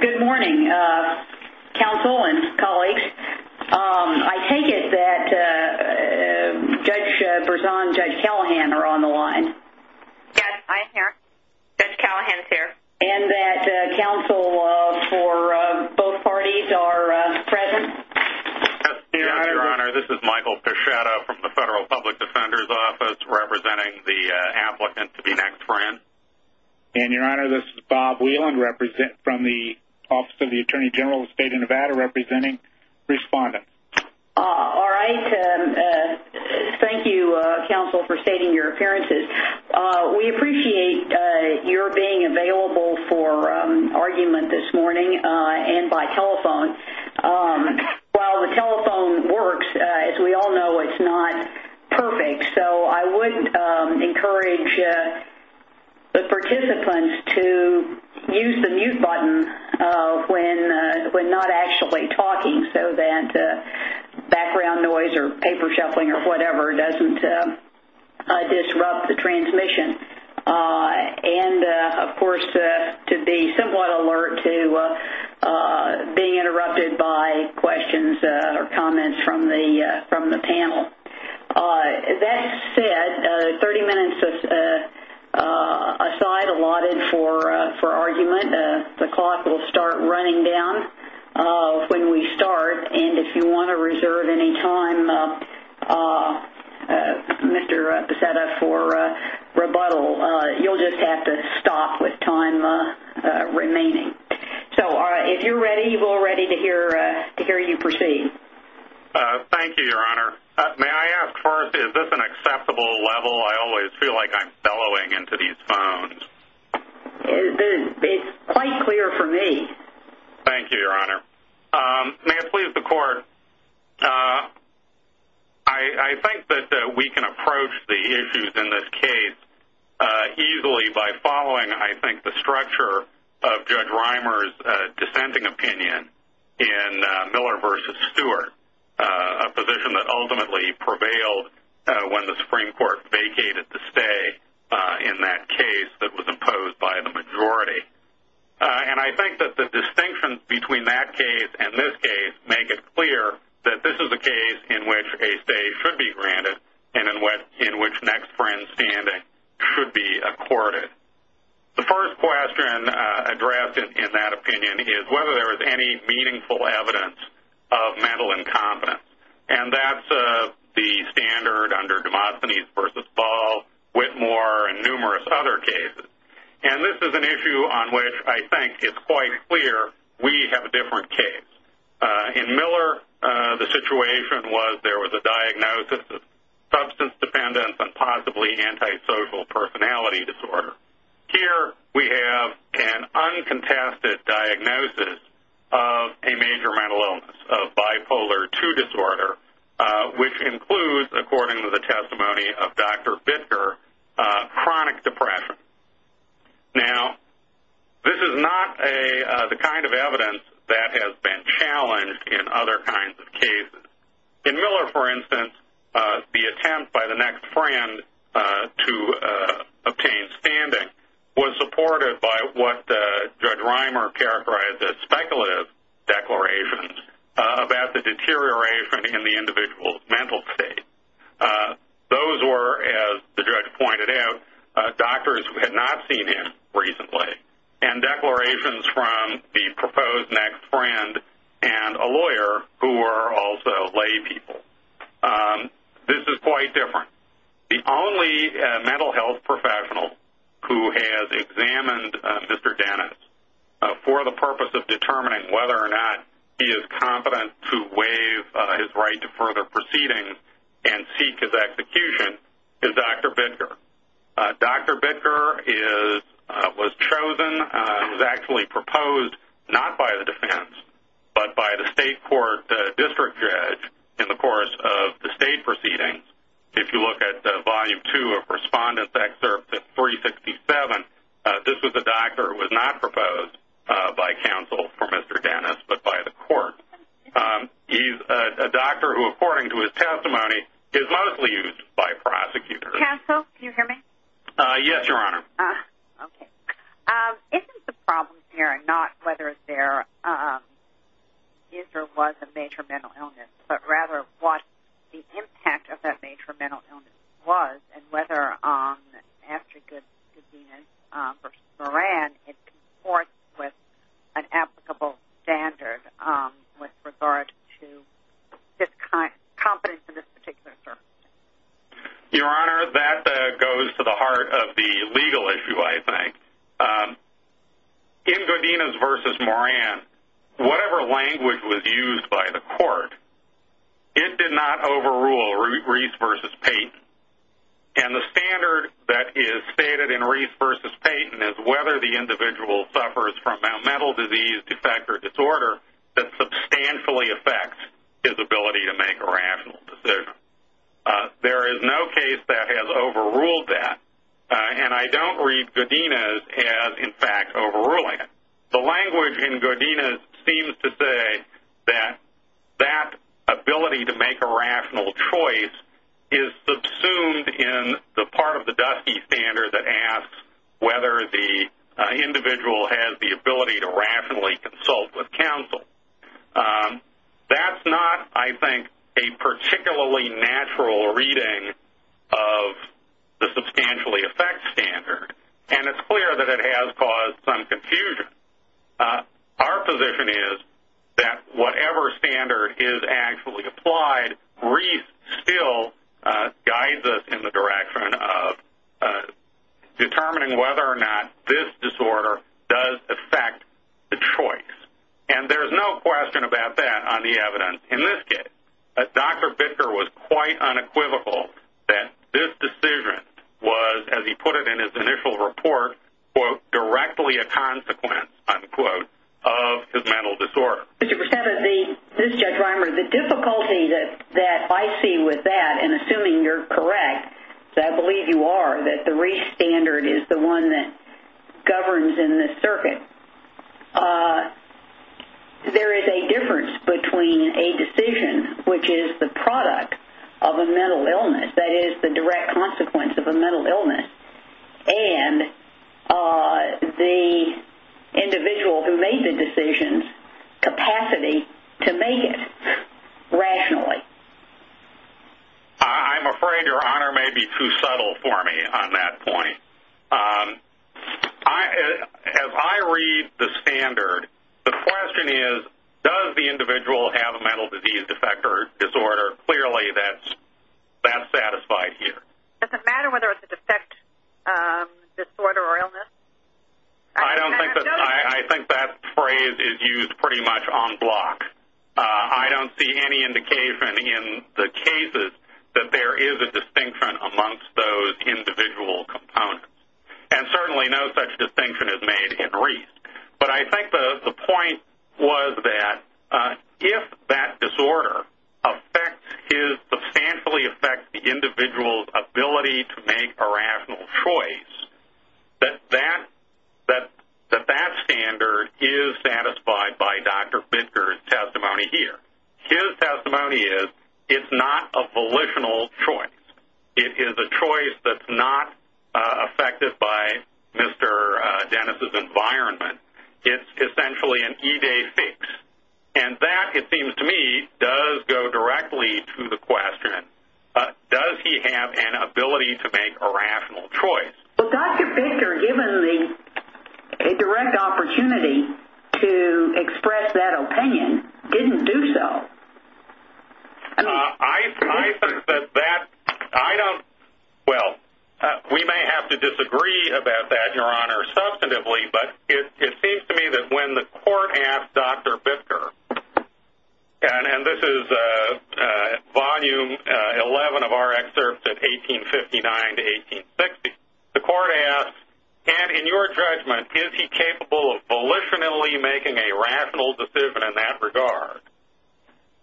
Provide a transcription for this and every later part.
Good morning, counsel and colleagues. I take it that Judge Berzon and Judge Callahan are on the line. Yes, I'm here. Judge Callahan's here. And that counsel for both parties are present? Yes, Your Honor. This is Michael Pichetto from the Federal Public Defender's Office, representing the applicant to be next for in. And, Your Honor, this is Bob Whelan from the Office of the Attorney General of the State of Nevada, representing respondents. All right. Thank you, counsel, for stating your appearances. We appreciate your being available for argument this morning and by telephone. While the telephone works, as we all know, it's not perfect, so I would encourage the participants to use the mute button when not actually talking so that background noise or paper shuffling or whatever doesn't disrupt the transmission. And, of course, to be somewhat alert to being interrupted by questions or comments from the panel. That said, 30 minutes aside, allotted for argument. The clock will start running down when we start. And if you want to reserve any time, Mr. Pichetto, for rebuttal, you'll just have to stop with time remaining. So if you're ready, we're ready to hear you proceed. Thank you, Your Honor. May I ask first, is this an acceptable level? I always feel like I'm bellowing into these phones. It's quite clear for me. Thank you, Your Honor. May I please the Court? I think that we can approach the issues in this case easily by following, I think, the structure of Judge Reimer's dissenting opinion in Miller v. Stewart, a position that ultimately prevailed when the Supreme Court vacated the stay in that case that was imposed by the majority. And I think that the distinctions between that case and this case make it clear that this is a case in which a stay should be granted and in which next friend's standing should be accorded. The first question addressed in that opinion is whether there is any meaningful evidence of mental incompetence. And that's the standard under Demosthenes v. Ball, Whitmore, and numerous other cases. And this is an issue on which I think it's quite clear we have a different case. In Miller, the situation was there was a diagnosis of substance dependence and possibly antisocial personality disorder. Here we have an uncontested diagnosis of a major mental illness, a bipolar II disorder, which includes, according to the testimony of Dr. Bittker, chronic depression. Now, this is not the kind of evidence that has been challenged in other kinds of cases. In Miller, for instance, the attempt by the next friend to obtain standing was supported by what Judge Reimer characterized as speculative declarations about the deterioration in the individual's mental state. Those were, as the judge pointed out, doctors who had not seen him recently and declarations from the proposed next friend and a lawyer who were also laypeople. This is quite different. The only mental health professional who has examined Mr. Dennis for the purpose of determining whether or not he is competent to waive his right to further proceedings and seek his execution is Dr. Bittker. Dr. Bittker was chosen, was actually proposed, not by the defense, but by the state court district judge in the course of the state proceedings. If you look at Volume 2 of Respondent's Excerpt at 367, this was a doctor who was not proposed by counsel for Mr. Dennis but by the court. He's a doctor who, according to his testimony, is mostly used by prosecutors. Counsel, can you hear me? Yes, Your Honor. Okay. Isn't the problem here not whether there is or was a major mental illness but rather what the impact of that major mental illness was and whether, after Goodwin v. Moran, it conforms with an applicable standard with regard to competence in this particular circumstance? Your Honor, that goes to the heart of the legal issue, I think. In Goodwin v. Moran, whatever language was used by the court, it did not overrule Reese v. Payton. And the standard that is stated in Reese v. Payton is whether the individual suffers from a mental disease, defect, or disorder that substantially affects his ability to make a rational decision. There is no case that has overruled that, and I don't read Godinez as, in fact, overruling it. The language in Godinez seems to say that that ability to make a rational choice is subsumed in the part of the Dusty standard that is where the individual has the ability to rationally consult with counsel. That's not, I think, a particularly natural reading of the substantially affects standard, and it's clear that it has caused some confusion. Our position is that whatever standard is actually applied, Reese still guides us in the direction of determining whether or not this disorder does affect the choice. And there's no question about that on the evidence in this case. Dr. Bicker was quite unequivocal that this decision was, as he put it in his initial report, quote, directly a consequence, unquote, of his mental disorder. Mr. Perceva, this is Judge Reimer. The difficulty that I see with that, and assuming you're correct, because I believe you are, that the Reese standard is the one that governs in this circuit, there is a difference between a decision which is the product of a mental illness, that is the direct consequence of a mental illness, and the individual who made the decision's capacity to make it rationally. I'm afraid your honor may be too subtle for me on that point. As I read the standard, the question is, does the individual have a mental disease, defect, or disorder? Clearly that's satisfied here. Does it matter whether it's a defect, disorder, or illness? I think that phrase is used pretty much on block. I don't see any indication in the cases that there is a distinction amongst those individual components, and certainly no such distinction is made in Reese. But I think the point was that if that disorder substantially affects the individual's ability to make a rational choice, that that standard is satisfied by Dr. Bidker's testimony here. His testimony is, it's not a volitional choice. It is a choice that's not affected by Mr. Dennis' environment. It's essentially an E-Day fix, and that, it seems to me, does go directly to the question, does he have an ability to make a rational choice? Well, Dr. Bidker, given the direct opportunity to express that opinion, didn't do so. I think that that, I don't, well, we may have to disagree about that, your honor, substantively, but it seems to me that when the court asked Dr. Bidker, and this is Volume 11 of our excerpts in 1859 to 1860, the court asked, and in your judgment, is he capable of volitionally making a rational decision in that regard?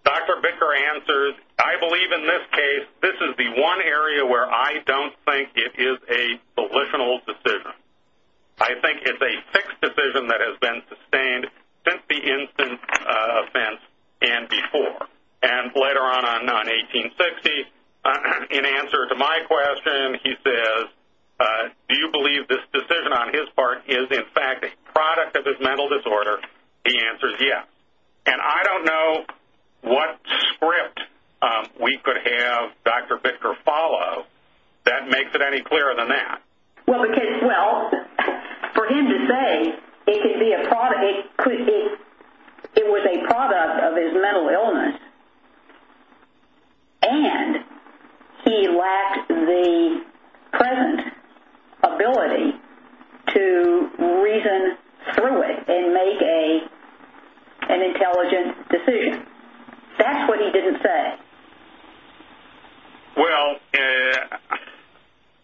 Dr. Bidker answers, I believe in this case, this is the one area where I don't think it is a volitional decision. I think it's a fixed decision that has been sustained since the instance of Fentz and before. And later on, on 1860, in answer to my question, he says, do you believe this decision on his part is, in fact, a product of his mental disorder? The answer is yes. And I don't know what script we could have Dr. Bidker follow that makes it any clearer than that. Well, for him to say it could be a product, it was a product of his mental illness, and he lacked the present ability to reason through it and make an intelligent decision. That's what he didn't say. Well,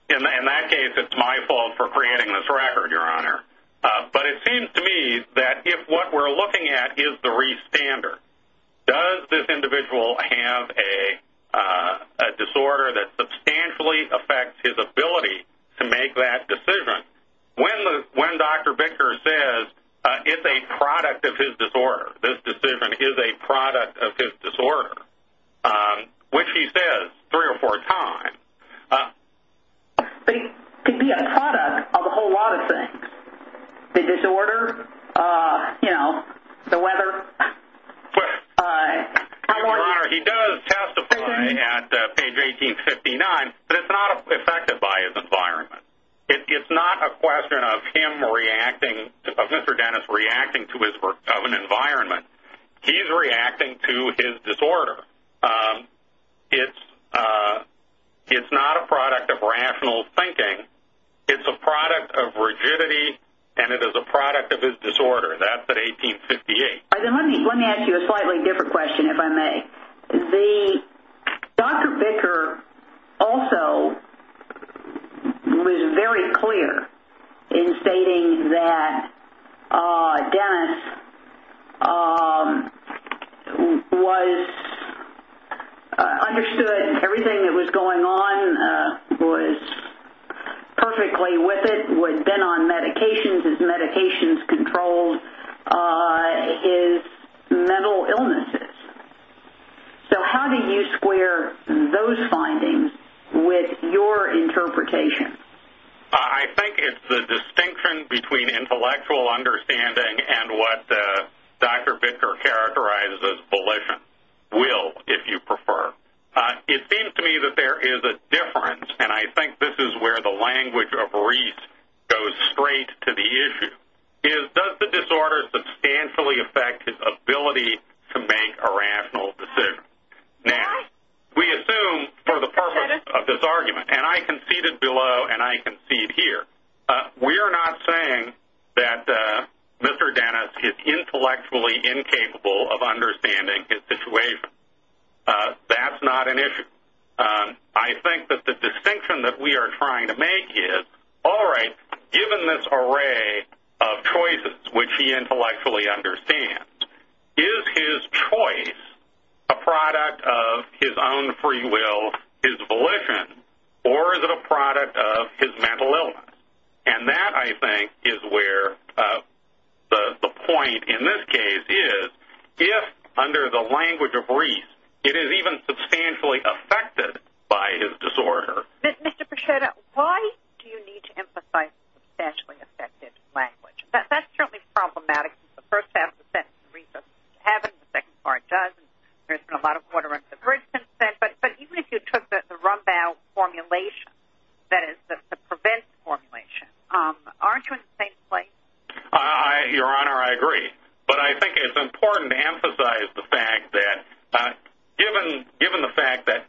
in that case, it's my fault for creating this record, Your Honor. But it seems to me that if what we're looking at is the restander, does this individual have a disorder that substantially affects his ability to make that decision? When Dr. Bidker says it's a product of his disorder, this decision is a product of his disorder, which he says three or four times. But it could be a product of a whole lot of things, the disorder, you know, the weather. Your Honor, he does testify at page 1859, but it's not affected by his environment. It's not a question of him reacting, of Mr. Dennis reacting to his environment. He's reacting to his disorder. It's not a product of rational thinking. It's a product of rigidity, and it is a product of his disorder. That's at 1858. All right, then let me ask you a slightly different question, if I may. Dr. Bidker also was very clear in stating that Dennis understood everything that was going on, was perfectly with it, had been on medications, his medications controlled his mental illnesses. So how do you square those findings with your interpretation? I think it's the distinction between intellectual understanding and what Dr. Bidker characterizes as volition, will, if you prefer. It seems to me that there is a difference, and I think this is where the language of Reese goes straight to the issue, is does the disorder substantially affect his ability to make a rational decision? Now, we assume for the purpose of this argument, and I conceded below and I concede here, we are not saying that Mr. Dennis is intellectually incapable of understanding his situation. That's not an issue. I think that the distinction that we are trying to make is, all right, given this array of choices which he intellectually understands, is his choice a product of his own free will, his volition, or is it a product of his mental illness? And that, I think, is where the point in this case is, if under the language of Reese it is even substantially affected by his disorder. Mr. Prosciutto, why do you need to emphasize substantially affected language? That's certainly problematic since the first half of the sentence is Reese's having, the second part does, and there's been a lot of quartering of the bridge since then, but even if you took the Rumbaugh formulation, that is, the prevent formulation, aren't you in the same place? Your Honor, I agree, but I think it's important to emphasize the fact that, given the fact that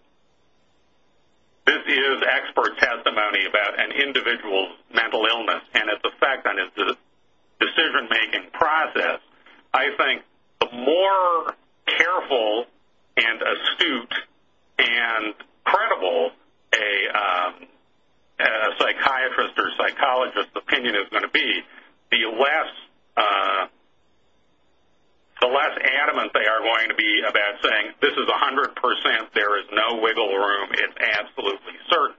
this is expert testimony about an individual's mental illness and its effect on his decision-making process, I think the more careful and astute and credible a psychiatrist or psychologist's opinion is going to be, the less adamant they are going to be about saying, this is 100 percent, there is no wiggle room, it's absolutely certain.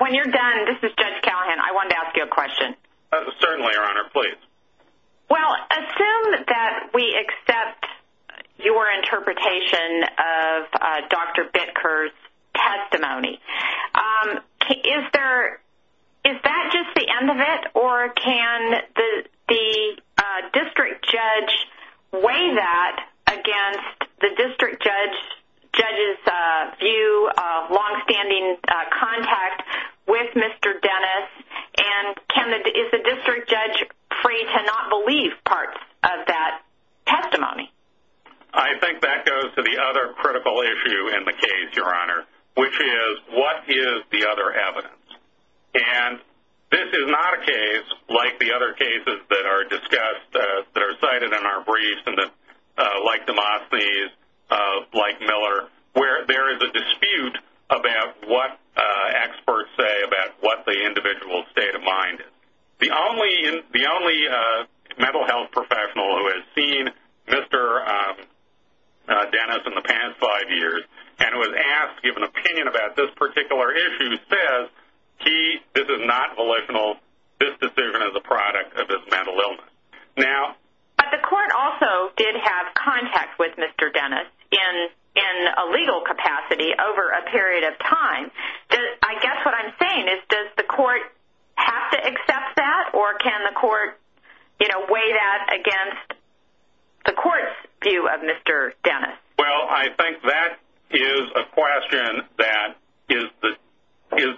When you're done, this is Judge Callahan, I wanted to ask you a question. Certainly, Your Honor, please. Well, assume that we accept your interpretation of Dr. Bitker's testimony. Is that just the end of it, or can the district judge weigh that against the district judge's view of longstanding contact with Mr. Dennis, and is the district judge free to not believe parts of that testimony? I think that goes to the other critical issue in the case, Your Honor, which is, what is the other evidence? And this is not a case like the other cases that are discussed, that are cited in our briefs, like Demosthenes, like Miller, where there is a dispute about what experts say about what the individual's state of mind is. The only mental health professional who has seen Mr. Dennis in the past five years and was asked to give an opinion about this particular issue says, this is not volitional, this decision is a product of his mental illness. But the court also did have contact with Mr. Dennis in a legal capacity over a period of time. I guess what I'm saying is, does the court have to accept that, or can the court weigh that against the court's view of Mr. Dennis? Well, I think that is a question that is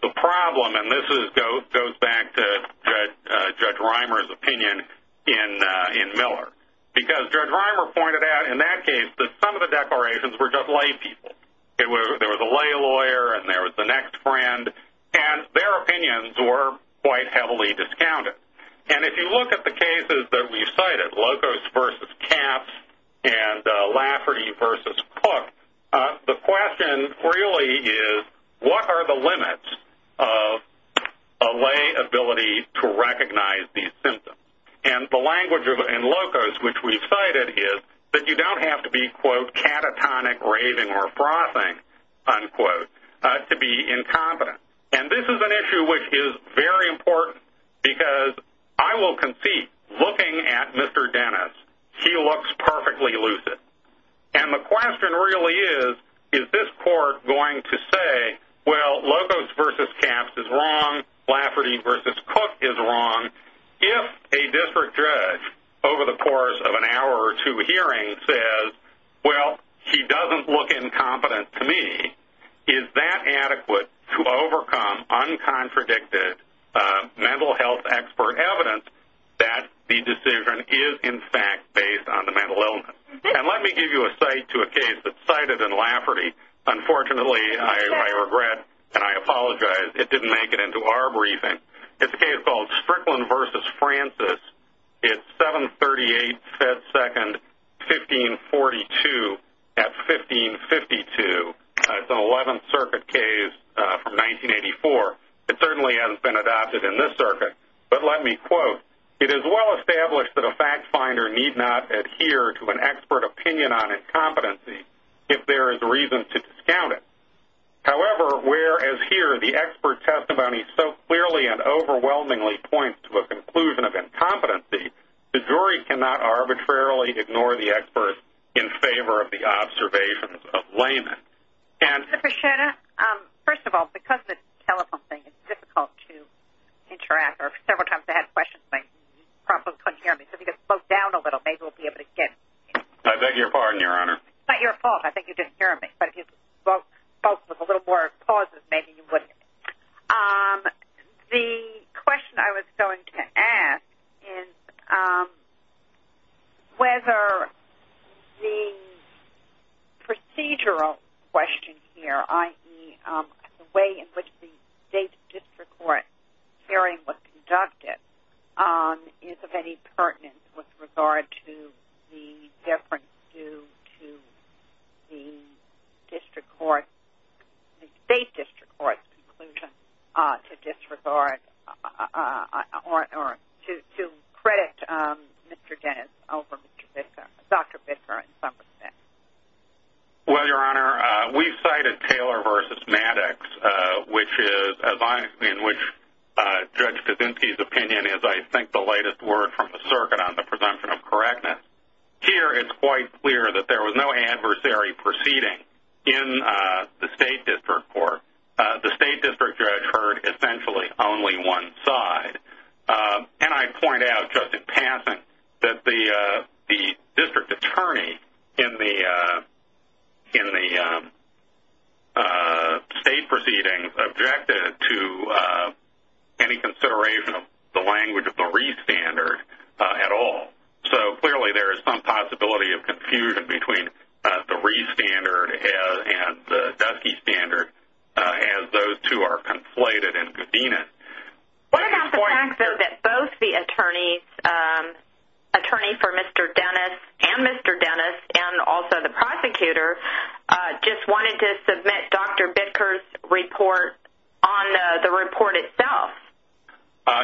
the problem, and this goes back to Judge Reimer's opinion in Miller. Because Judge Reimer pointed out in that case that some of the declarations were just lay people. There was a lay lawyer, and there was the next friend, and their opinions were quite heavily discounted. And if you look at the cases that we've cited, Locos v. Capps and Lafferty v. Cook, the question really is, what are the limits of a lay ability to recognize these symptoms? And the language in Locos, which we've cited, is that you don't have to be, quote, catatonic, raving, or frothing, unquote, to be incompetent. And this is an issue which is very important, because I will concede, looking at Mr. Dennis, he looks perfectly lucid. And the question really is, is this court going to say, well, Locos v. Capps is wrong, Lafferty v. Cook is wrong, if a district judge, over the course of an hour or two hearing, says, well, he doesn't look incompetent to me. Is that adequate to overcome uncontradicted mental health expert evidence that the decision is, in fact, based on the mental illness? And let me give you a cite to a case that's cited in Lafferty. Unfortunately, I regret and I apologize it didn't make it into our briefing. It's a case called Strickland v. Francis. It's 738 Fed Second, 1542 at 1552. It's an 11th Circuit case from 1984. It certainly hasn't been adopted in this circuit. But let me quote, it is well established that a fact finder need not adhere to an expert opinion on incompetency if there is reason to discount it. However, whereas here the expert testimony so clearly and overwhelmingly points to a conclusion of incompetency, the jury cannot arbitrarily ignore the expert in favor of the observations of layman. Mr. Pichetta, first of all, because of the telephone thing, it's difficult to interact. Several times I had questions, but you probably couldn't hear me. So if you could slow down a little, maybe we'll be able to get. I beg your pardon, Your Honor. It's not your fault. I think you didn't hear me. But if you spoke with a little more pauses, maybe you wouldn't. The question I was going to ask is whether the procedural question here, i.e., the way in which the district court, the state district court's conclusion to disregard or to credit Mr. Dennis over Dr. Bicker in some respect. Well, Your Honor, we cited Taylor v. Maddox, which is, in which Judge Kaczynski's opinion is, I think, the lightest word from the circuit on the presumption of correctness. Here, it's quite clear that there was no adversary proceeding in the state district court. The state district judge heard essentially only one side. And I point out, just in passing, that the district attorney in the state proceedings objected to any consideration of the language of the re-standard at all. So, clearly, there is some possibility of confusion between the re-standard and the dusky standard, as those two are conflated and convened. What about the fact that both the attorneys, attorney for Mr. Dennis and Mr. Dennis, and also the prosecutor, just wanted to submit Dr. Bicker's report on the report itself?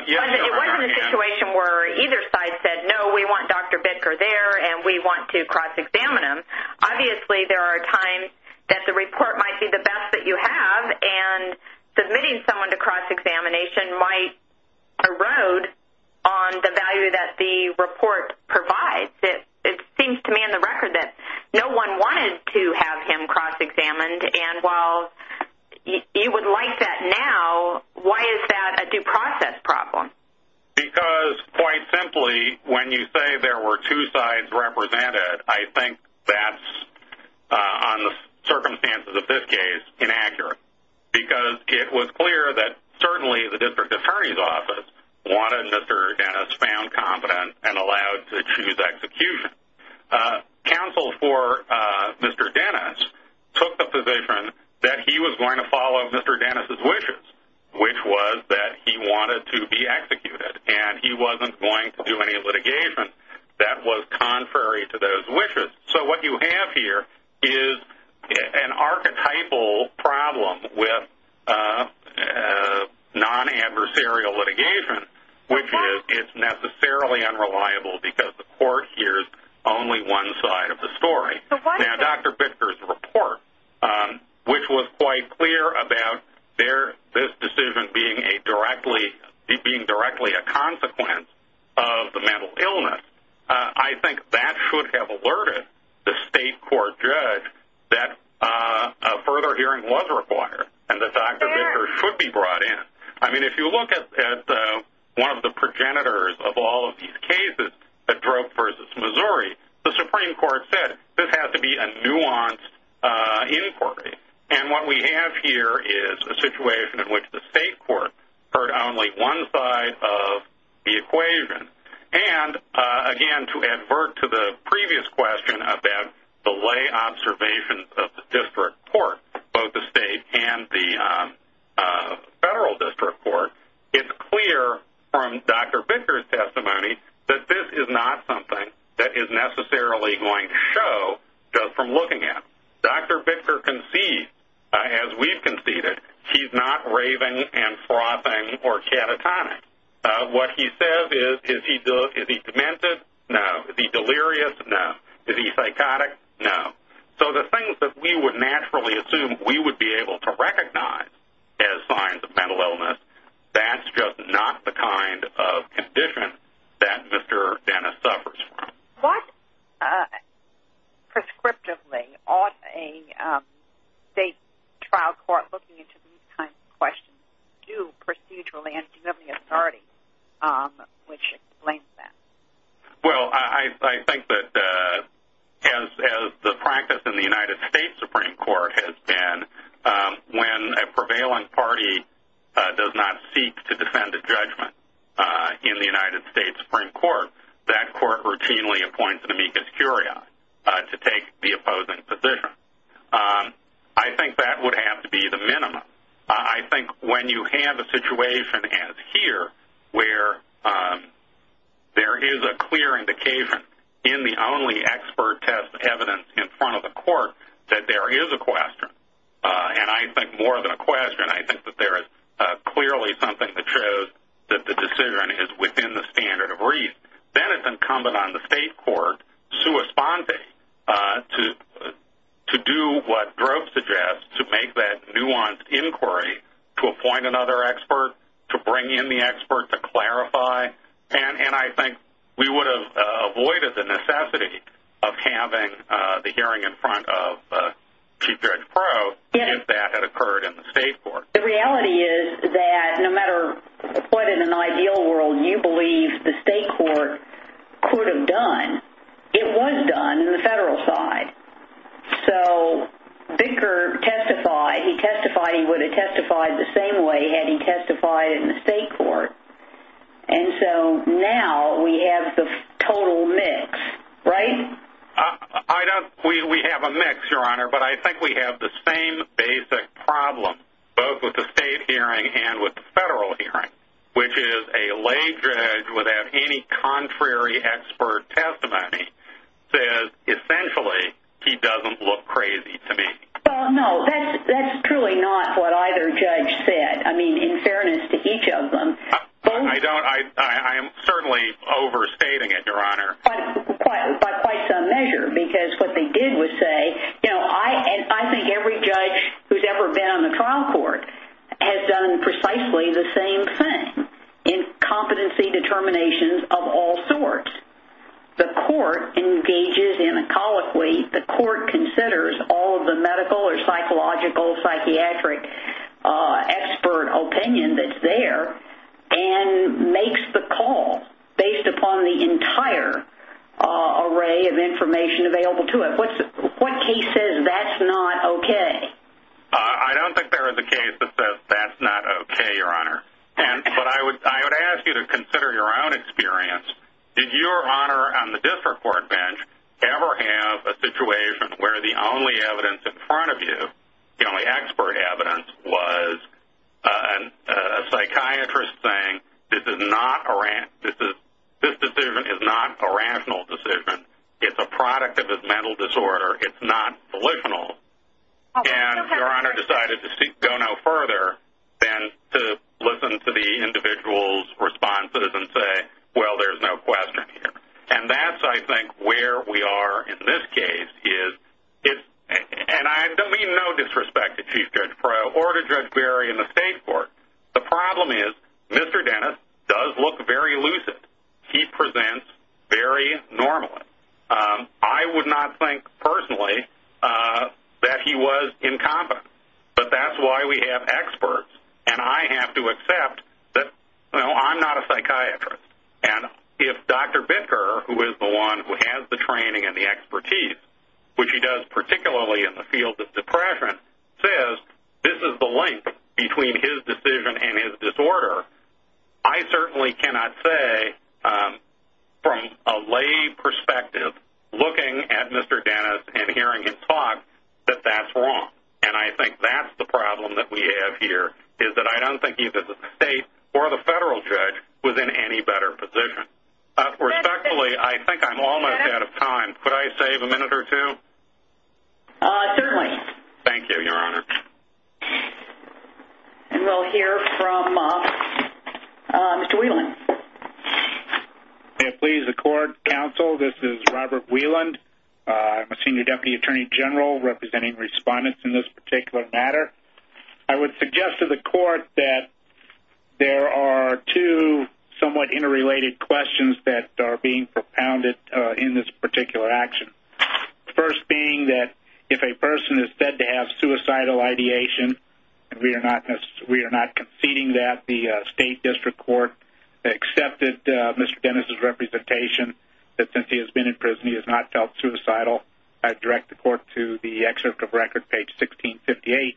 Yes, Your Honor. It wasn't a situation where either side said, no, we want Dr. Bicker there, and we want to cross-examine him. Obviously, there are times that the report might be the best that you have, and submitting someone to cross-examination might erode on the value that the report provides. It seems to me on the record that no one wanted to have him cross-examined, and while you would like that now, why is that a due process problem? Because, quite simply, when you say there were two sides represented, I think that's, on the circumstances of this case, inaccurate. Because it was clear that certainly the district attorney's office wanted Mr. Dennis found competent and allowed to choose execution. Counsel for Mr. Dennis took the position that he was going to follow Mr. Dennis' wishes, which was that he wanted to be executed, and he wasn't going to do any litigation that was contrary to those wishes. So what you have here is an archetypal problem with non-adversarial litigation, which is it's necessarily unreliable because the court hears only one side of the story. Now, Dr. Bicker's report, which was quite clear about this decision being directly a consequence of the mental illness, I think that should have alerted the state court judge that a further hearing was required and that Dr. Bicker should be brought in. I mean, if you look at one of the progenitors of all of these cases, the drug versus Missouri, the Supreme Court said this has to be a nuanced inquiry. And what we have here is a situation in which the state court heard only one side of the equation. And, again, to advert to the previous question about delay observations of the district court, both the state and the federal district court, it's clear from Dr. Bicker's testimony that this is not something that is necessarily going to show just from looking at it. Dr. Bicker concedes, as we've conceded, he's not raving and frothing or catatonic. What he says is, is he demented? No. Is he delirious? No. Is he psychotic? No. So the things that we would naturally assume we would be able to recognize as signs of mental illness, that's just not the kind of condition that Mr. Dennis suffers from. What prescriptively ought a state trial court looking into these kinds of questions do procedurally and do you have any authority which explains that? Well, I think that as the practice in the United States Supreme Court has been, when a prevailing party does not seek to defend a judgment in the United States Supreme Court, that court routinely appoints an amicus curiae to take the opposing position. I think that would have to be the minimum. I think when you have a situation as here where there is a clear indication in the only expert test evidence in front of the court that there is a question, and I think more than a question, I think that there is clearly something that shows that the decision is within the standard of reason, then it's incumbent on the state court to respond to do what Drove suggests, to make that nuanced inquiry, to appoint another expert, to bring in the expert, to clarify, and I think we would have avoided the necessity of having the hearing in front of Chief Judge Crow if that had occurred in the state court. The reality is that no matter what in an ideal world you believe the state court could have done, it was done in the federal side. So Bicker testified. He testified he would have testified the same way had he testified in the state court. And so now we have the total mix, right? We have a mix, Your Honor, but I think we have the same basic problem both with the state hearing and with the federal hearing, which is a lay judge without any contrary expert testimony says essentially he doesn't look crazy to me. Well, no, that's truly not what either judge said. I mean, in fairness to each of them. I don't. I am certainly overstating it, Your Honor. By quite some measure because what they did was say, you know, I think every judge who's ever been on the trial court has done precisely the same thing in competency determinations of all sorts. The court engages in a colloquy. The court considers all of the medical or psychological, psychiatric expert opinion that's there and makes the call based upon the entire array of information available to it. What case says that's not okay? I don't think there is a case that says that's not okay, Your Honor. But I would ask you to consider your own experience. Did your honor on the district court bench ever have a situation where the only evidence in front of you, the only expert evidence was a psychiatrist saying this decision is not a rational decision. It's a product of his mental disorder. It's not delusional. And your honor decided to go no further than to listen to the individual's responses and say, well, there's no question here. And that's, I think, where we are in this case. And I don't mean no disrespect to Chief Judge Perot or to Judge Berry in the state court. The problem is Mr. Dennis does look very lucid. He presents very normally. I would not think personally that he was incompetent. But that's why we have experts, and I have to accept that I'm not a psychiatrist. And if Dr. Binker, who is the one who has the training and the expertise, which he does particularly in the field of depression, says this is the link between his decision and his disorder, I certainly cannot say from a lay perspective, looking at Mr. Dennis and hearing him talk, that that's wrong. And I think that's the problem that we have here, is that I don't think either the state or the federal judge was in any better position. Respectfully, I think I'm almost out of time. Could I save a minute or two? Certainly. Thank you, your honor. And we'll hear from Mr. Wieland. Please, the court, counsel, this is Robert Wieland. I'm a senior deputy attorney general representing respondents in this particular matter. I would suggest to the court that there are two somewhat interrelated questions that are being propounded in this particular action. The first being that if a person is said to have suicidal ideation, and we are not conceding that the state district court accepted Mr. Dennis' representation, that since he has been in prison he has not felt suicidal, I direct the court to the excerpt of record, page 1658,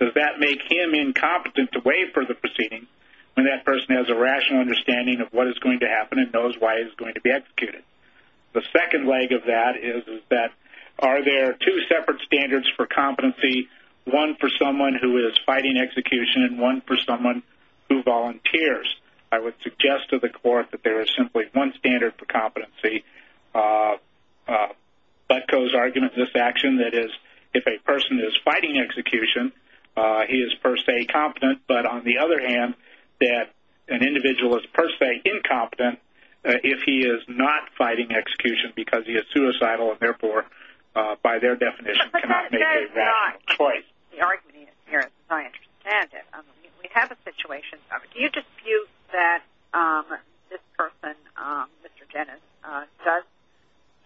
does that make him incompetent to waive further proceedings when that person has a rational understanding of what is going to happen and knows why he's going to be executed? The second leg of that is that are there two separate standards for competency, one for someone who is fighting execution and one for someone who volunteers? I would suggest to the court that there is simply one standard for competency, but goes argument of this action, that is, if a person is fighting execution, he is per se competent, but on the other hand, that an individual is per se incompetent if he is not fighting execution because he is suicidal and therefore, by their definition, cannot make a rational choice. That is not the argument here, as I understand it. We have a situation, do you dispute that this person, Mr. Dennis, does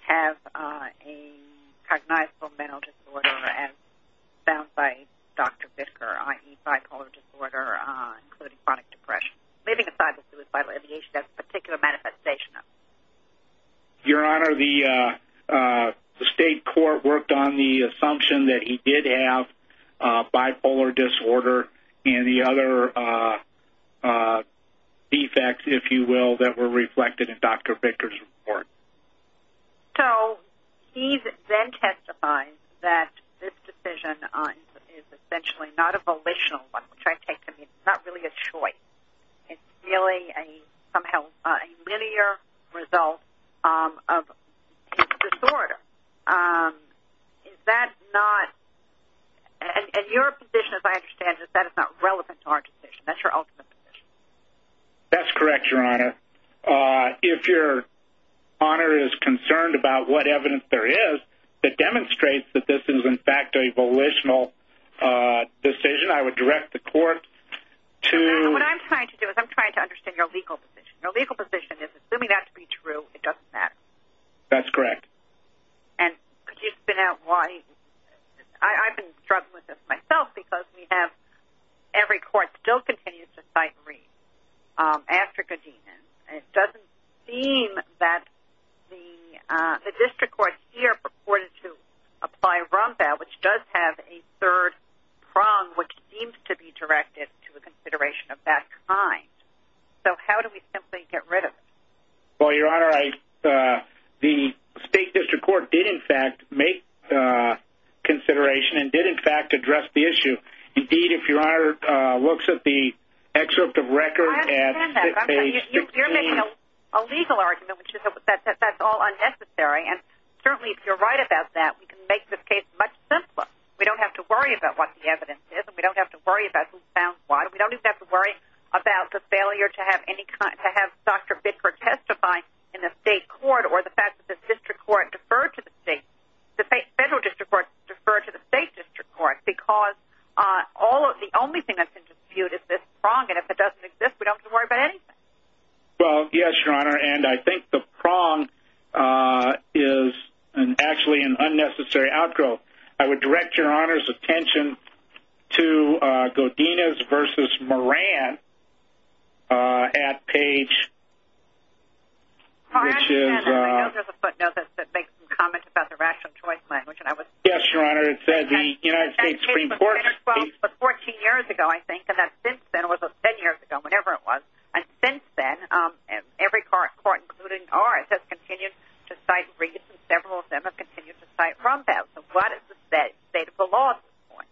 have a cognizable mental disorder as found by Dr. Bittker, i.e. bipolar disorder, including chronic depression, leaving aside the suicidal ideation of a particular manifestation of it? Your Honor, the state court worked on the assumption that he did have bipolar disorder and the other defects, if you will, that were reflected in Dr. Bittker's report. So he then testifies that this decision is essentially not a volitional one, which I take to mean it's not really a choice. It's really somehow a linear result of his disorder. Is that not – and your position, as I understand it, is that it's not relevant to our decision. That's your ultimate position. That's correct, Your Honor. If Your Honor is concerned about what evidence there is that demonstrates that this is, in fact, a volitional decision, I would direct the court to – What I'm trying to do is I'm trying to understand your legal position. Your legal position is, assuming that to be true, it doesn't matter. That's correct. And could you spin out why – I've been struggling with this myself because we have – every court still continues to cite Reed after Godinian. It doesn't seem that the district court here purported to apply Rompau, which does have a third prong which seems to be directed to a consideration of that kind. So how do we simply get rid of it? Well, Your Honor, the state district court did, in fact, make the consideration and did, in fact, address the issue. Indeed, if Your Honor looks at the excerpt of record at page 16 – I understand that. You're making a legal argument, which is that that's all unnecessary. And certainly, if you're right about that, we can make this case much simpler. We don't have to worry about what the evidence is and we don't have to worry about who found what. We don't even have to worry about the failure to have Dr. Bickford testify in the state court or the fact that the district court deferred to the state – the federal district court deferred to the state district court because the only thing that's in dispute is this prong, and if it doesn't exist, we don't have to worry about anything. Well, yes, Your Honor, and I think the prong is actually an unnecessary outgrowth. I would direct Your Honor's attention to Godinez v. Moran at page, which is – All right, and I know there's a footnote that makes some comments about the rational choice language, and I was – Yes, Your Honor. It said the United States Supreme Court – That case was 14 years ago, I think, and that since then – it was 10 years ago, whatever it was – and since then, every court, including ours, has continued to cite Reed, and several of them have continued to cite Rombaugh. So what is the state of the law at this point?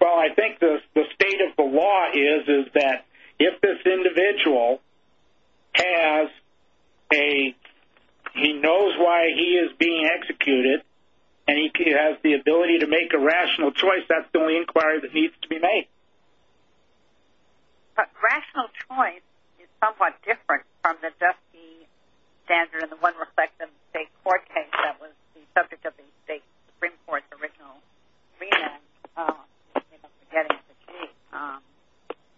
Well, I think the state of the law is that if this individual has a – he knows why he is being executed, and he has the ability to make a rational choice, that's the only inquiry that needs to be made. But rational choice is somewhat different from the dusky standard and the one reflected in the state court case that was the subject of the state Supreme Court's original remand.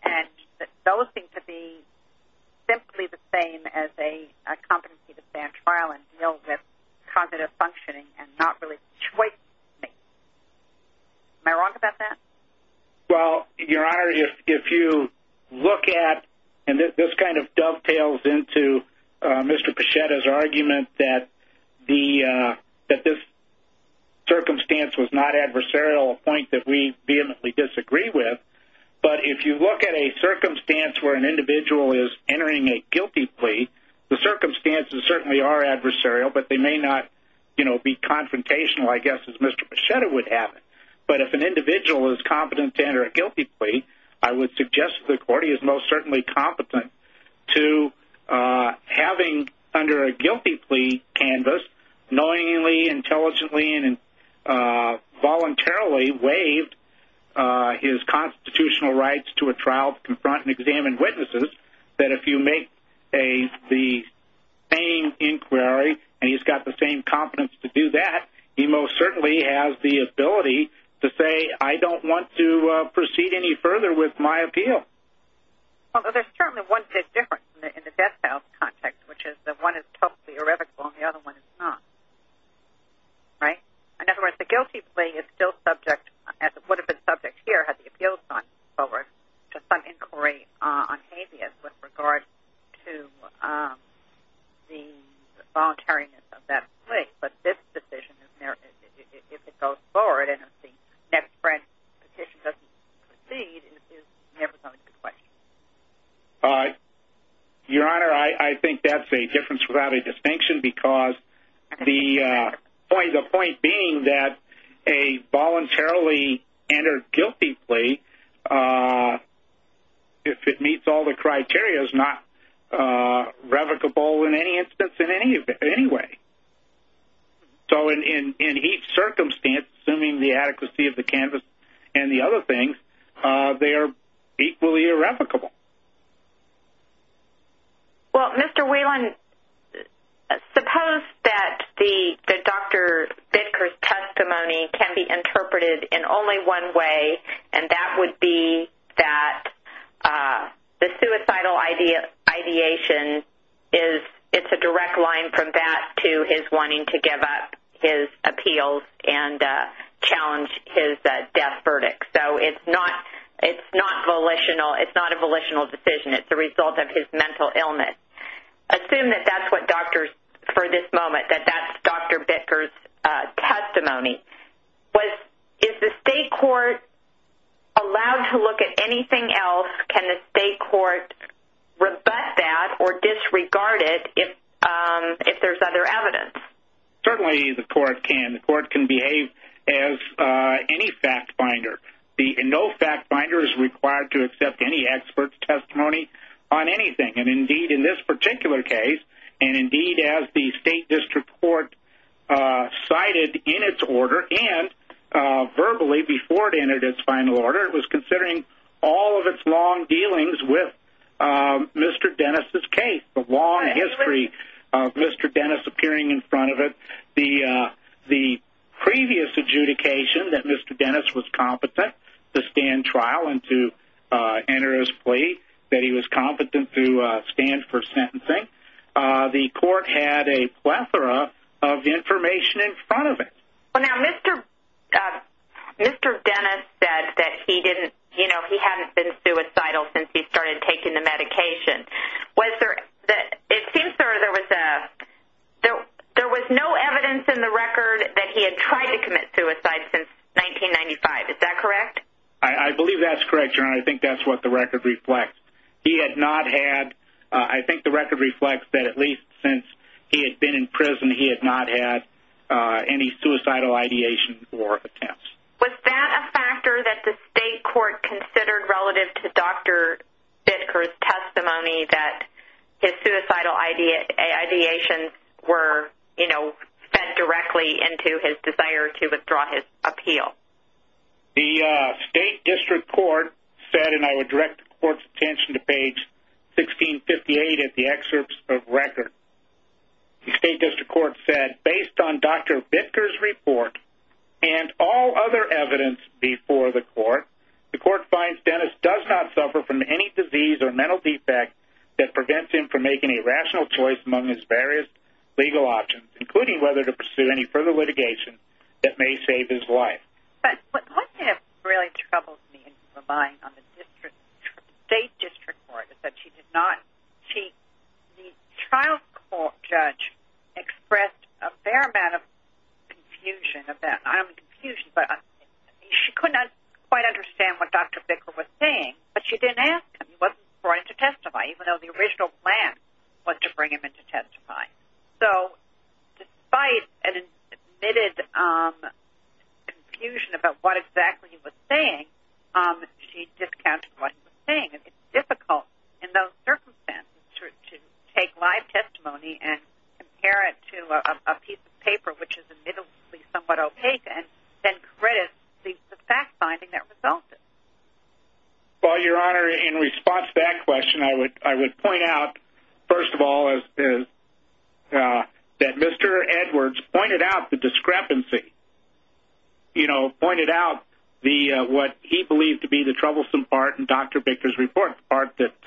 And those seem to be simply the same as a competency to stand trial and deal with cognitive functioning and not really choice-making. Am I wrong about that? Well, Your Honor, if you look at – and this kind of dovetails into Mr. Pachetta's argument that this circumstance was not adversarial, a point that we vehemently disagree with, but if you look at a circumstance where an individual is entering a guilty plea, the circumstances certainly are adversarial, but they may not be confrontational, I guess, as Mr. Pachetta would have it. But if an individual is competent to enter a guilty plea, I would suggest to the court he is most certainly competent to having, under a guilty plea canvas, knowingly, intelligently, and voluntarily waived his constitutional rights to a trial to confront and examine witnesses, that if you make the same inquiry and he's got the same competence to do that, he most certainly has the ability to say, I don't want to proceed any further with my appeal. Well, there's certainly one big difference in the death penalty context, which is that one is totally irrevocable and the other one is not, right? In other words, the guilty plea is still subject, as it would have been subject here to some inquiry on habeas with regard to the voluntariness of that plea. But this decision, if it goes forward and if the next French petition doesn't proceed, is never going to be questioned. Your Honor, I think that's a difference without a distinction, because the point being that a voluntarily entered guilty plea, if it meets all the criteria, is not revocable in any instance in any way. So in each circumstance, assuming the adequacy of the canvas and the other things, they are equally irrevocable. Well, Mr. Whelan, suppose that Dr. Bidker's testimony can be interpreted in only one way, and that would be that the suicidal ideation is a direct line from that to his wanting to give up his appeals and challenge his death verdict. So it's not a volitional decision. It's a result of his mental illness. Assume that that's what doctors, for this moment, that that's Dr. Bidker's testimony. Is the state court allowed to look at anything else? Can the state court rebut that or disregard it if there's other evidence? Certainly the court can. The court can behave as any fact finder. No fact finder is required to accept any expert's testimony on anything. Indeed, in this particular case, and indeed as the state district court cited in its order and verbally before it entered its final order, it was considering all of its long dealings with Mr. Dennis' case, the long history of Mr. Dennis appearing in front of it, the previous adjudication that Mr. Dennis was competent to stand trial and to enter his plea, that he was competent to stand for sentencing. The court had a plethora of information in front of it. Now, Mr. Dennis said that he hadn't been suicidal since he started taking the medication. It seems there was no evidence in the record that he had tried to commit suicide since 1995. Is that correct? I believe that's correct, Your Honor. I think that's what the record reflects. I think the record reflects that at least since he had been in prison, he had not had any suicidal ideation or attempts. Was that a factor that the state court considered relative to Dr. Bittker's testimony that his suicidal ideations were fed directly into his desire to withdraw his appeal? The state district court said, and I would direct the court's attention to page 1658 in the excerpts of the record. The state district court said, based on Dr. Bittker's report and all other evidence before the court, the court finds Dennis does not suffer from any disease or mental defect that prevents him from making a rational choice among his various legal options, including whether to pursue any further litigation that may save his life. But what has really troubled me in my mind on the state district court is that the trial court judge expressed a fair amount of confusion. I don't mean confusion, but she could not quite understand what Dr. Bittker was saying, but she didn't ask him. He wasn't brought in to testify, even though the original plan was to bring him in to testify. So despite an admitted confusion about what exactly he was saying, she discounted what he was saying. It's difficult in those circumstances to take live testimony and compare it to a piece of paper which is admittedly somewhat opaque and then criticize the fact-finding that resulted. Well, Your Honor, in response to that question, I would point out, first of all, that Mr. Edwards pointed out the discrepancy, you know, pointed out what he believed to be the troublesome part in Dr. Bittker's report, the part that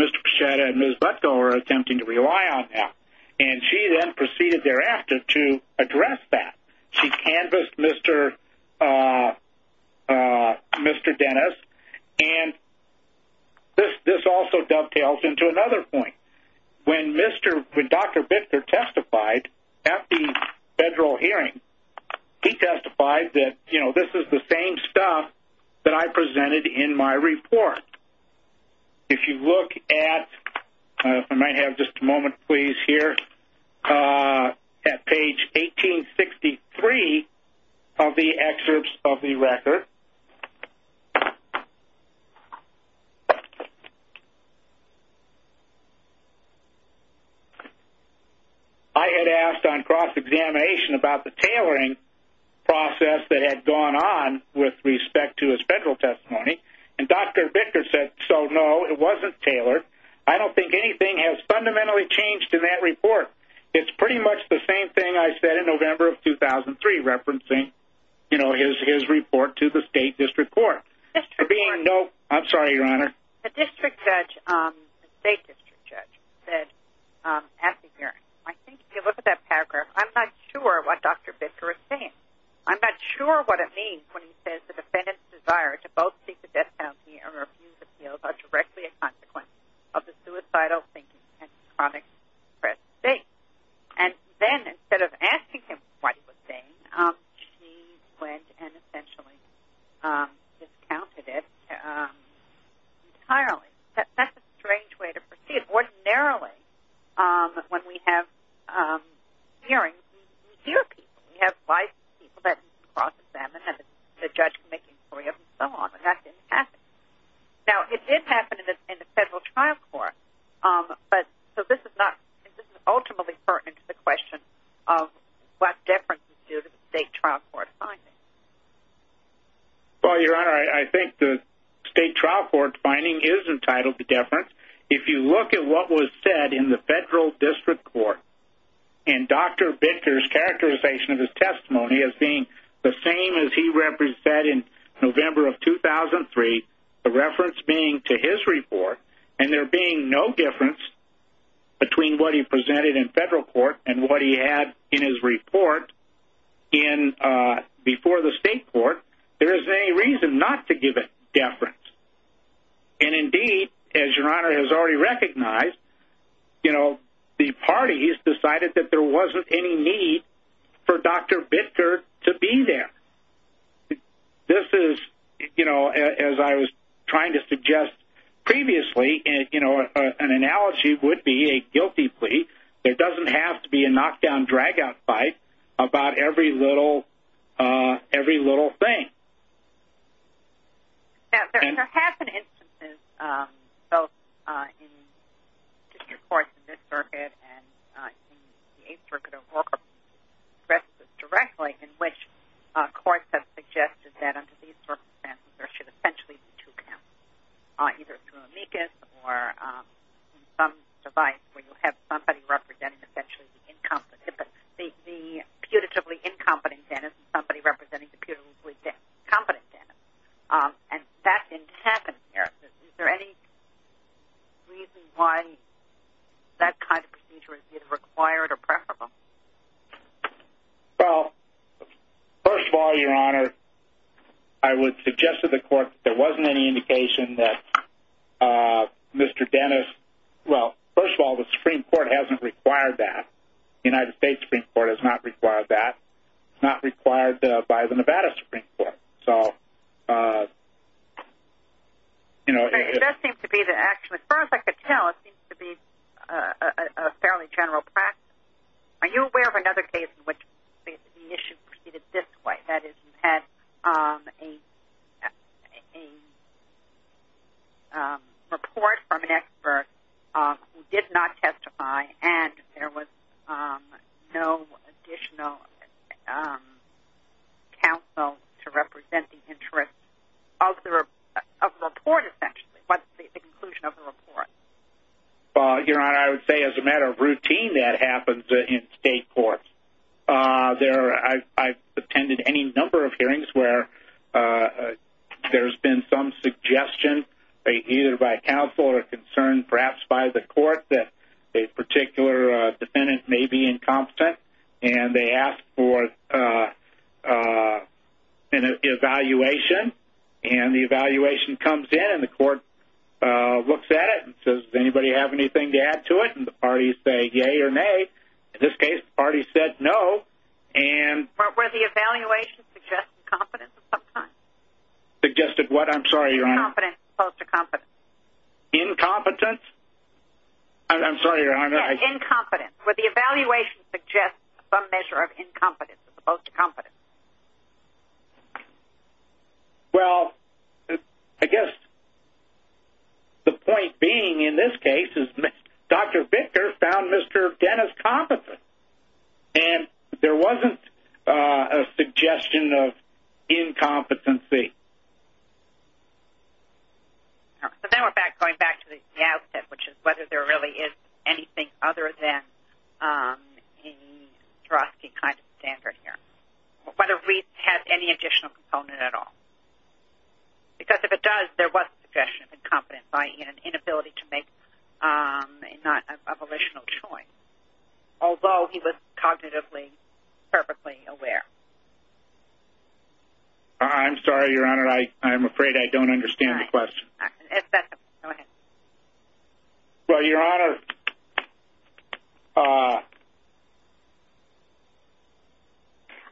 Mr. Pecheta and Ms. Butko are attempting to rely on now. And she then proceeded thereafter to address that. She canvassed Mr. Dennis, and this also dovetails into another point. When Dr. Bittker testified at the federal hearing, he testified that, you know, this is the same stuff that I presented in my report. If you look at-I might have just a moment, please, here-at page 1863 of the excerpts of the record, I had asked on cross-examination about the tailoring process that had gone on with respect to his federal testimony. And Dr. Bittker said, so, no, it wasn't tailored. I don't think anything has fundamentally changed in that report. It's pretty much the same thing I said in November of 2003, referencing, you know, his report to the State District Court. For being no-I'm sorry, Your Honor. The District Judge-the State District Judge said at the hearing, I think if you look at that paragraph, I'm not sure what Dr. Bittker is saying. I'm not sure what it means when he says, the defendant's desire to both seek the death penalty or refuse appeals are directly a consequence of the suicidal thinking and chronic stress state. And then, instead of asking him what he was saying, she went and essentially discounted it entirely. That's a strange way to proceed. Ordinarily when we have hearings, we hear people. We have people that cross-examine and the judge can make inquiries and so on. And that didn't happen. Now, it did happen in the Federal Trial Court, but this is ultimately pertinent to the question of what deference is due to the State Trial Court finding. Well, Your Honor, I think the State Trial Court finding is entitled to deference. If you look at what was said in the Federal District Court and Dr. Bittker's characterization of his testimony as being the same as he represented in November of 2003, the reference being to his report, and there being no difference between what he presented in Federal Court and what he had in his report before the State Court, there is any reason not to give it deference. And indeed, as Your Honor has already recognized, the parties decided that there wasn't any need for Dr. Bittker to be there. This is, as I was trying to suggest previously, an analogy would be a guilty plea. There doesn't have to be a knockdown-dragout fight about every little thing. Now, there have been instances, both in District Courts in this circuit and in the Eighth Circuit of Oregon, and the rest of this directly, in which courts have suggested that under these circumstances there should essentially be two counts, either through amicus or some device where you have somebody representing essentially the incompetent. The putatively incompetent Dennis and somebody representing the putatively competent Dennis. And that didn't happen here. Is there any reason why that kind of procedure is either required or preferable? Well, first of all, Your Honor, I would suggest to the Court that there wasn't any indication that Mr. Dennis... Well, first of all, the Supreme Court hasn't required that. The United States Supreme Court has not required that. It's not required by the Nevada Supreme Court. So, you know... It does seem to be that actually, as far as I could tell, it seems to be a fairly general practice. Are you aware of another case in which the issue proceeded this way, that is, you had a report from an expert who did not testify and there was no additional counsel to represent the interest of the report, essentially? What's the conclusion of the report? Well, Your Honor, I would say as a matter of routine that happens in state courts. I've attended any number of hearings where there's been some suggestion, either by counsel or concern perhaps by the court, that a particular defendant may be incompetent. And they ask for an evaluation. And the evaluation comes in and the court looks at it and says, does anybody have anything to add to it? And the parties say, yea or nay. In this case, the parties said no. Were the evaluations suggested incompetence at some time? Suggested what, I'm sorry, Your Honor? Incompetence as opposed to competence. Incompetence? I'm sorry, Your Honor. Yes, incompetence. Were the evaluations suggested as a measure of incompetence as opposed to competence? Well, I guess the point being in this case is Dr. Victor found Mr. Dennis competent. And there wasn't a suggestion of incompetency. All right. So then we're going back to the outset, which is whether there really is anything other than the Swarovski kind of standard here. Whether Reid has any additional component at all. Because if it does, there was a suggestion of incompetence, i.e., an inability to make a volitional choice, although he was cognitively perfectly aware. I'm sorry, Your Honor. I'm afraid I don't understand the question. Go ahead. Well, Your Honor.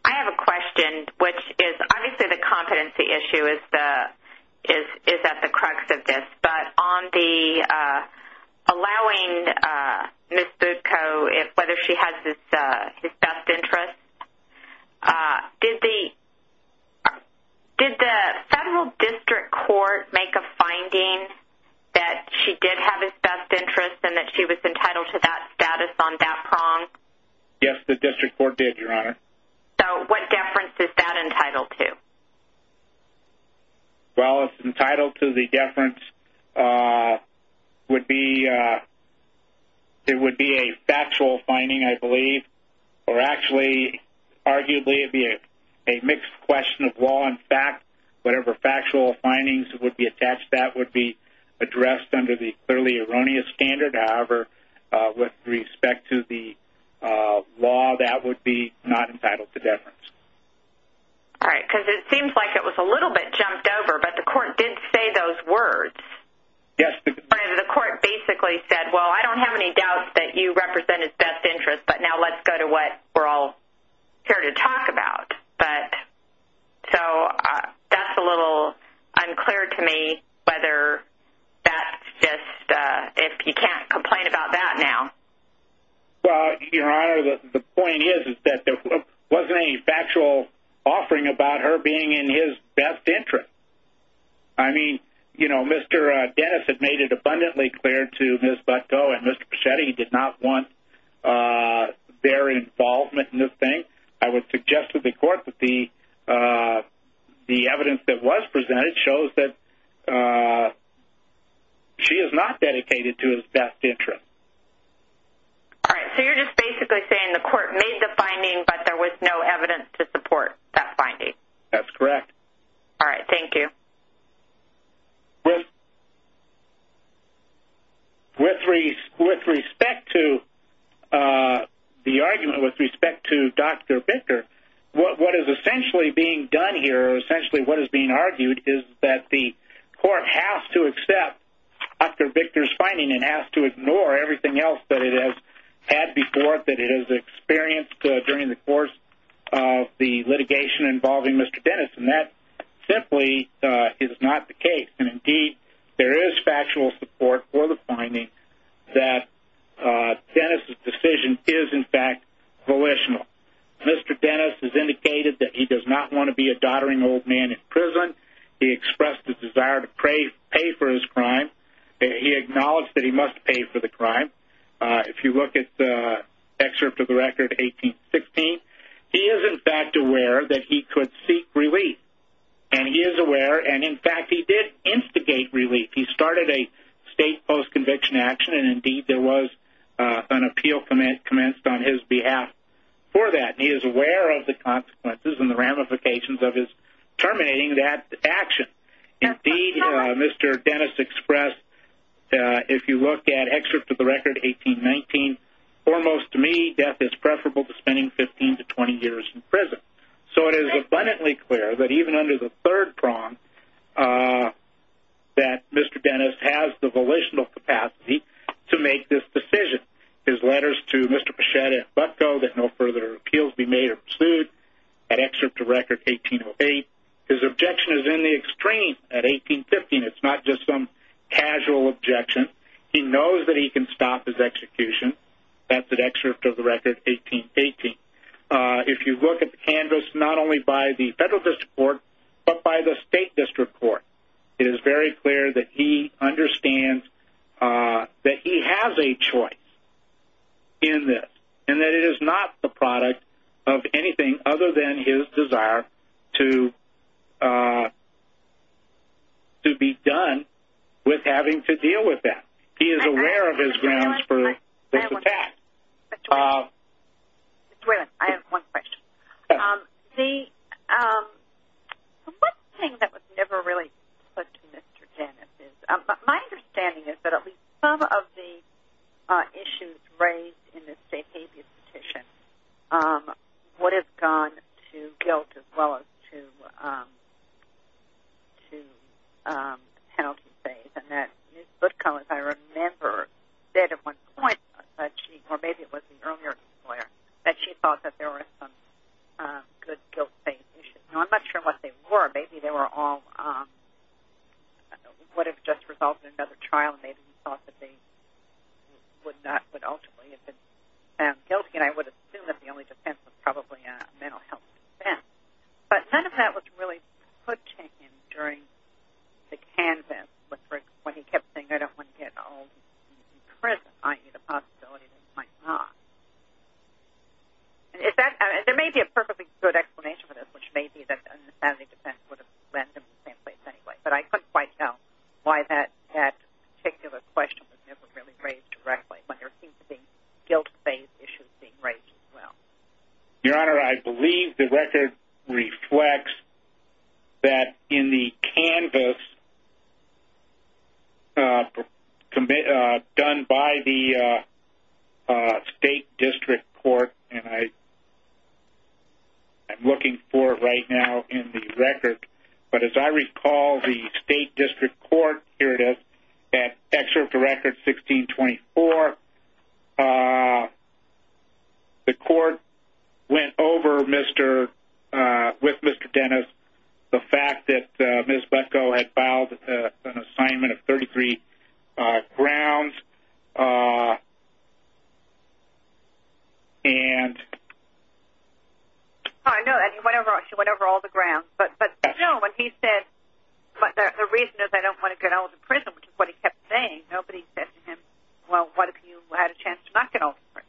I have a question, which is obviously the competency issue is at the crux of this. But on the allowing Ms. Budko, whether she has his best interest, did the federal district court make a finding that she did have his best interest and that she was entitled to that status on that prong? Yes, the district court did, Your Honor. So what deference is that entitled to? Well, it's entitled to the deference would be a factual finding, I believe. Or actually, arguably it would be a mixed question of law and fact. Whatever factual findings would be attached to that would be addressed under the clearly erroneous standard. However, with respect to the law, that would be not entitled to deference. All right. Because it seems like it was a little bit jumped over, but the court did say those words. Yes. The court basically said, well, I don't have any doubts that you represent his best interest, but now let's go to what we're all here to talk about. So that's a little unclear to me whether that's just if you can't complain about that now. Well, Your Honor, the point is that there wasn't any factual offering about her being in his best interest. I mean, you know, Mr. Dennis had made it abundantly clear to Ms. Butko and Mr. Pachetti he did not want their involvement in this thing. I would suggest to the court that the evidence that was presented shows that she is not dedicated to his best interest. All right. So you're just basically saying the court made the finding, but there was no evidence to support that finding. That's correct. All right. Thank you. With respect to the argument with respect to Dr. Victor, what is essentially being done here or essentially what is being argued is that the court has to accept Dr. Victor's finding and has to ignore everything else that it has had before, that it has experienced during the course of the litigation involving Mr. Dennis, and that simply is not the case. And indeed, there is factual support for the finding that Dennis's decision is, in fact, volitional. Mr. Dennis has indicated that he does not want to be a doddering old man in prison. He expressed a desire to pay for his crime. He acknowledged that he must pay for the crime. If you look at the excerpt of the record, 1816, he is, in fact, aware that he could seek relief, and he is aware, and, in fact, he did instigate relief. He started a state post-conviction action, and, indeed, there was an appeal commenced on his behalf for that. He is aware of the consequences and the ramifications of his terminating that action. Indeed, Mr. Dennis expressed, if you look at excerpt of the record, 1819, foremost to me, death is preferable to spending 15 to 20 years in prison. So it is abundantly clear that, even under the third prong, that Mr. Dennis has the volitional capacity to make this decision. His letters to Mr. Pechetta and Butko that no further appeals be made are pursued. That excerpt of record, 1808, his objection is in the extreme at 1815. It's not just some casual objection. He knows that he can stop his execution. That's an excerpt of the record, 1818. If you look at the canvas, not only by the federal district court, but by the state district court, it is very clear that he understands that he has a choice in this He is aware of his grounds for this attack. Mr. Whalen, I have one question. The one thing that was never really put to Mr. Dennis is, my understanding is that at least some of the issues raised in the safe habeas petition would have gone to guilt as well as to penalty phase. And that Ms. Butko, as I remember, said at one point that she, or maybe it was the earlier lawyer, that she thought that there were some good guilt-based issues. Now, I'm not sure what they were. Maybe they were all what had just resulted in another trial, and maybe he thought that they would ultimately have been found guilty. Again, I would assume that the only defense was probably a mental health defense. But none of that was really put to him during the canvas. When he kept saying, I don't want to get all these people in prison, i.e. the possibility that he might not. There may be a perfectly good explanation for this, which may be that an insanity defense would have led them to the same place anyway. But I couldn't quite tell why that particular question was never really raised directly, when there seemed to be guilt-based issues being raised as well. Your Honor, I believe the record reflects that in the canvas done by the State District Court, and I'm looking for it right now in the record. But as I recall, the State District Court, here it is, at Excerpt of Record 1624, the court went over with Mr. Dennis the fact that Ms. Butko had filed an assignment of 33 grounds. I know that. She went over all the grounds. But the reason is, I don't want to get all of them in prison, which is what he kept saying. Nobody said to him, well, what if you had a chance to not get all of them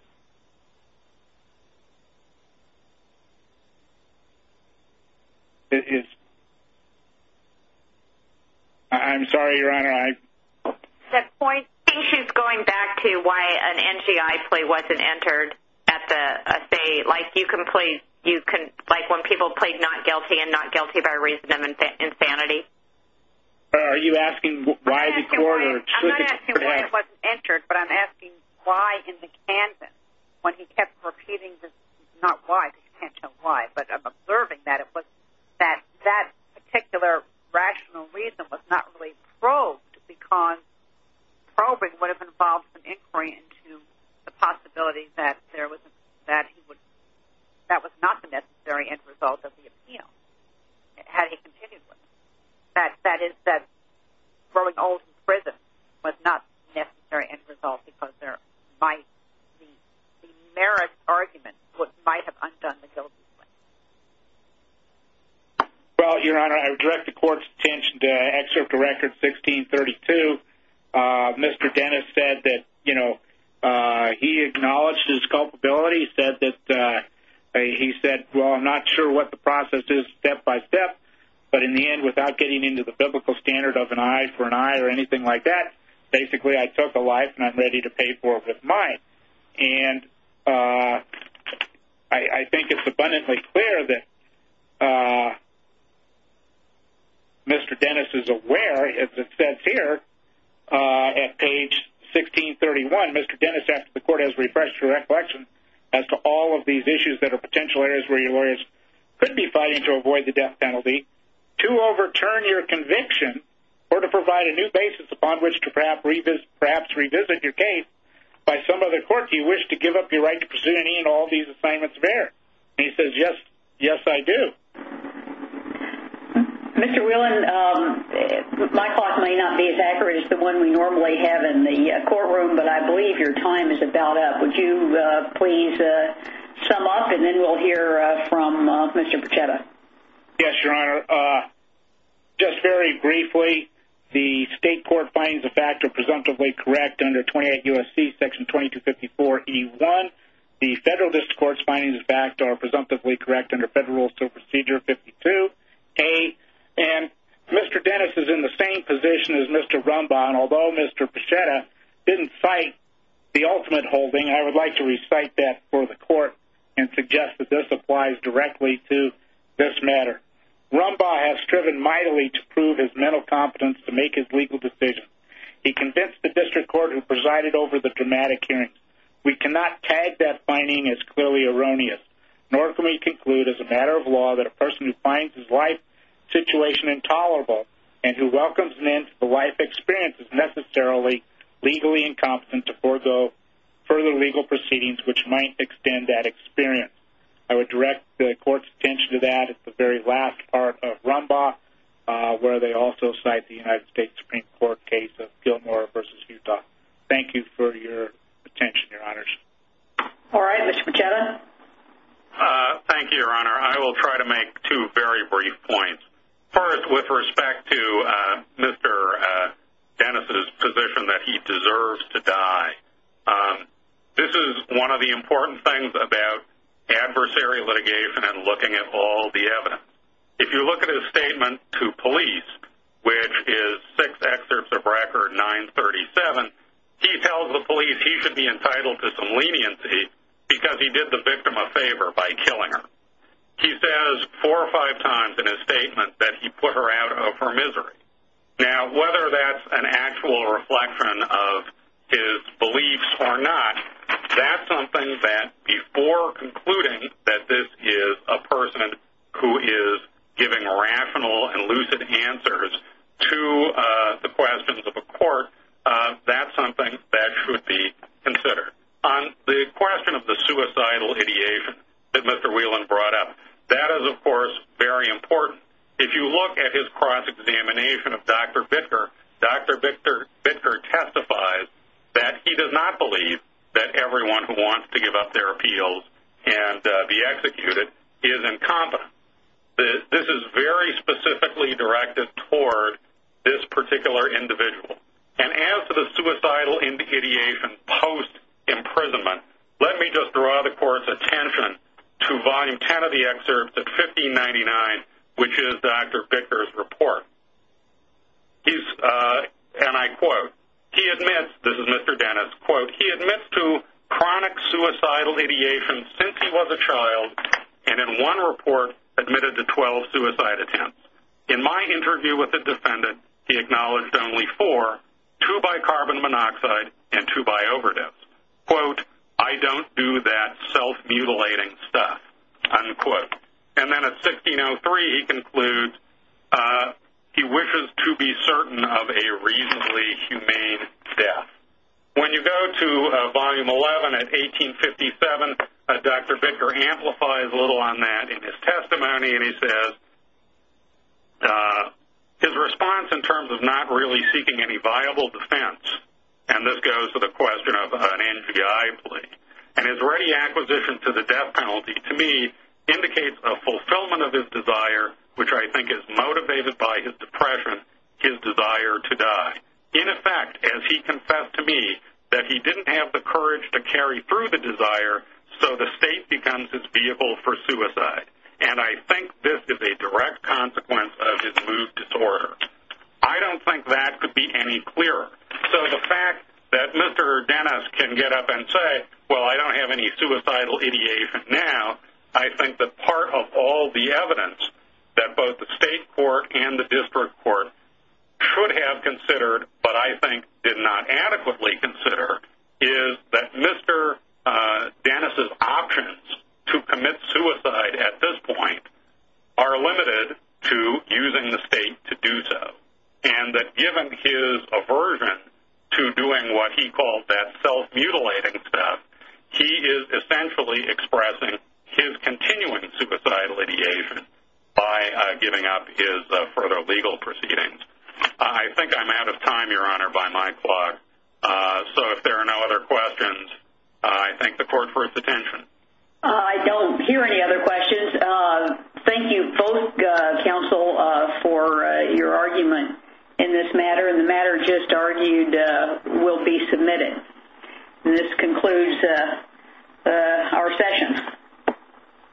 in prison? I'm sorry, Your Honor. I think she's going back to why an NGI play wasn't entered at the state, like when people played not guilty and not guilty by reason of insanity. Are you asking why the court? I'm not asking why it wasn't entered, but I'm asking why in the canvas, when he kept repeating this, not why, because you can't tell why, but I'm observing that. That particular rational reason was not really probed because probing would have involved an inquiry into the possibility that that was not the necessary end result of the appeal, had he continued with it. That is, that throwing all of them in prison was not the necessary end result because there might be merit arguments that might have undone the guilty plea. Well, Your Honor, I would direct the court's attention to Excerpt to Record 1632. Mr. Dennis said that he acknowledged his culpability. He said, well, I'm not sure what the process is step by step, but in the end, without getting into the biblical standard of an eye for an eye or anything like that, basically, I took a life and I'm ready to pay for it with mine. And I think it's abundantly clear that Mr. Dennis is aware, as it says here, at page 1631, Mr. Dennis asked if the court has refreshed your recollection as to all of these issues that are potential areas where your lawyers could be fighting to avoid the death penalty, to overturn your conviction, or to provide a new basis upon which to perhaps revisit your case. By some other court, do you wish to give up your right to pursue any and all of these assignments of error? And he says, yes, yes, I do. Mr. Whelan, my clock may not be as accurate as the one we normally have in the courtroom, but I believe your time is about up. Would you please sum up, and then we'll hear from Mr. Pechetta. Yes, Your Honor. Just very briefly, the state court findings, in fact, are presumptively correct under 28 U.S.C. section 2254E1. The federal district court's findings, in fact, are presumptively correct under Federal Rules of Procedure 52A. And Mr. Dennis is in the same position as Mr. Rumbaugh, and although Mr. Pechetta didn't cite the ultimate holding, I would like to recite that for the court and suggest that this applies directly to this matter. Rumbaugh has striven mightily to prove his mental competence to make his legal decision. He convinced the district court who presided over the dramatic hearing. We cannot tag that finding as clearly erroneous, nor can we conclude as a matter of law that a person who finds his life situation intolerable and who welcomes an end to the life experience is necessarily legally incompetent to forego further legal proceedings, which might extend that experience. I would direct the court's attention to that at the very last part of Rumbaugh, where they also cite the United States Supreme Court case of Gilmore v. Utah. Thank you for your attention, Your Honors. All right, Mr. Pechetta. Thank you, Your Honor. I will try to make two very brief points. First, with respect to Mr. Dennis' position that he deserves to die, this is one of the important things about adversary litigation and looking at all the evidence. If you look at his statement to police, which is six excerpts of record, 937, he tells the police he should be entitled to some leniency because he did the victim a favor by killing her. He says four or five times in his statement that he put her out of her misery. Now, whether that's an actual reflection of his beliefs or not, that's something that before concluding that this is a person who is giving rational and lucid answers to the questions of a court, that's something that should be considered. On the question of the suicidal ideation that Mr. Whelan brought up, that is, of course, very important. If you look at his cross-examination of Dr. Bittker, Dr. Bittker testifies that he does not believe that everyone who wants to give up their appeals and be executed is incompetent. This is very specifically directed toward this particular individual. And as to the suicidal ideation post-imprisonment, let me just draw the court's attention to Volume 10 of the excerpts at 1599, which is Dr. Bittker's report. And I quote, he admits, this is Mr. Dennis, quote, he admits to chronic suicidal ideation since he was a child and in one report admitted to 12 suicide attempts. In my interview with the defendant, he acknowledged only four, two by carbon monoxide and two by overdose. Quote, I don't do that self-mutilating stuff, unquote. And then at 1603 he concludes he wishes to be certain of a reasonably humane death. When you go to Volume 11 at 1857, Dr. Bittker amplifies a little on that in his testimony and he says his response in terms of not really seeking any viable defense, and this goes to the question of an NGI plea, and his ready acquisition to the death penalty to me indicates a fulfillment of his desire, which I think is motivated by his depression, his desire to die. In effect, as he confessed to me that he didn't have the courage to carry through the desire, so the state becomes his vehicle for suicide. And I think this is a direct consequence of his mood disorder. I don't think that could be any clearer. So the fact that Mr. Dennis can get up and say, well, I don't have any suicidal ideation now, I think that part of all the evidence that both the state court and the district court should have considered but I think did not adequately consider is that Mr. Dennis' options to commit suicide at this point are limited to using the state to do so, and that given his aversion to doing what he calls that self-mutilating stuff, he is essentially expressing his continuing suicidal ideation by giving up his further legal proceedings. I think I'm out of time, Your Honor, by my clock. So if there are no other questions, I thank the court for its attention. I don't hear any other questions. Thank you both, counsel, for your argument in this matter, and the matter just argued will be submitted. And this concludes our session.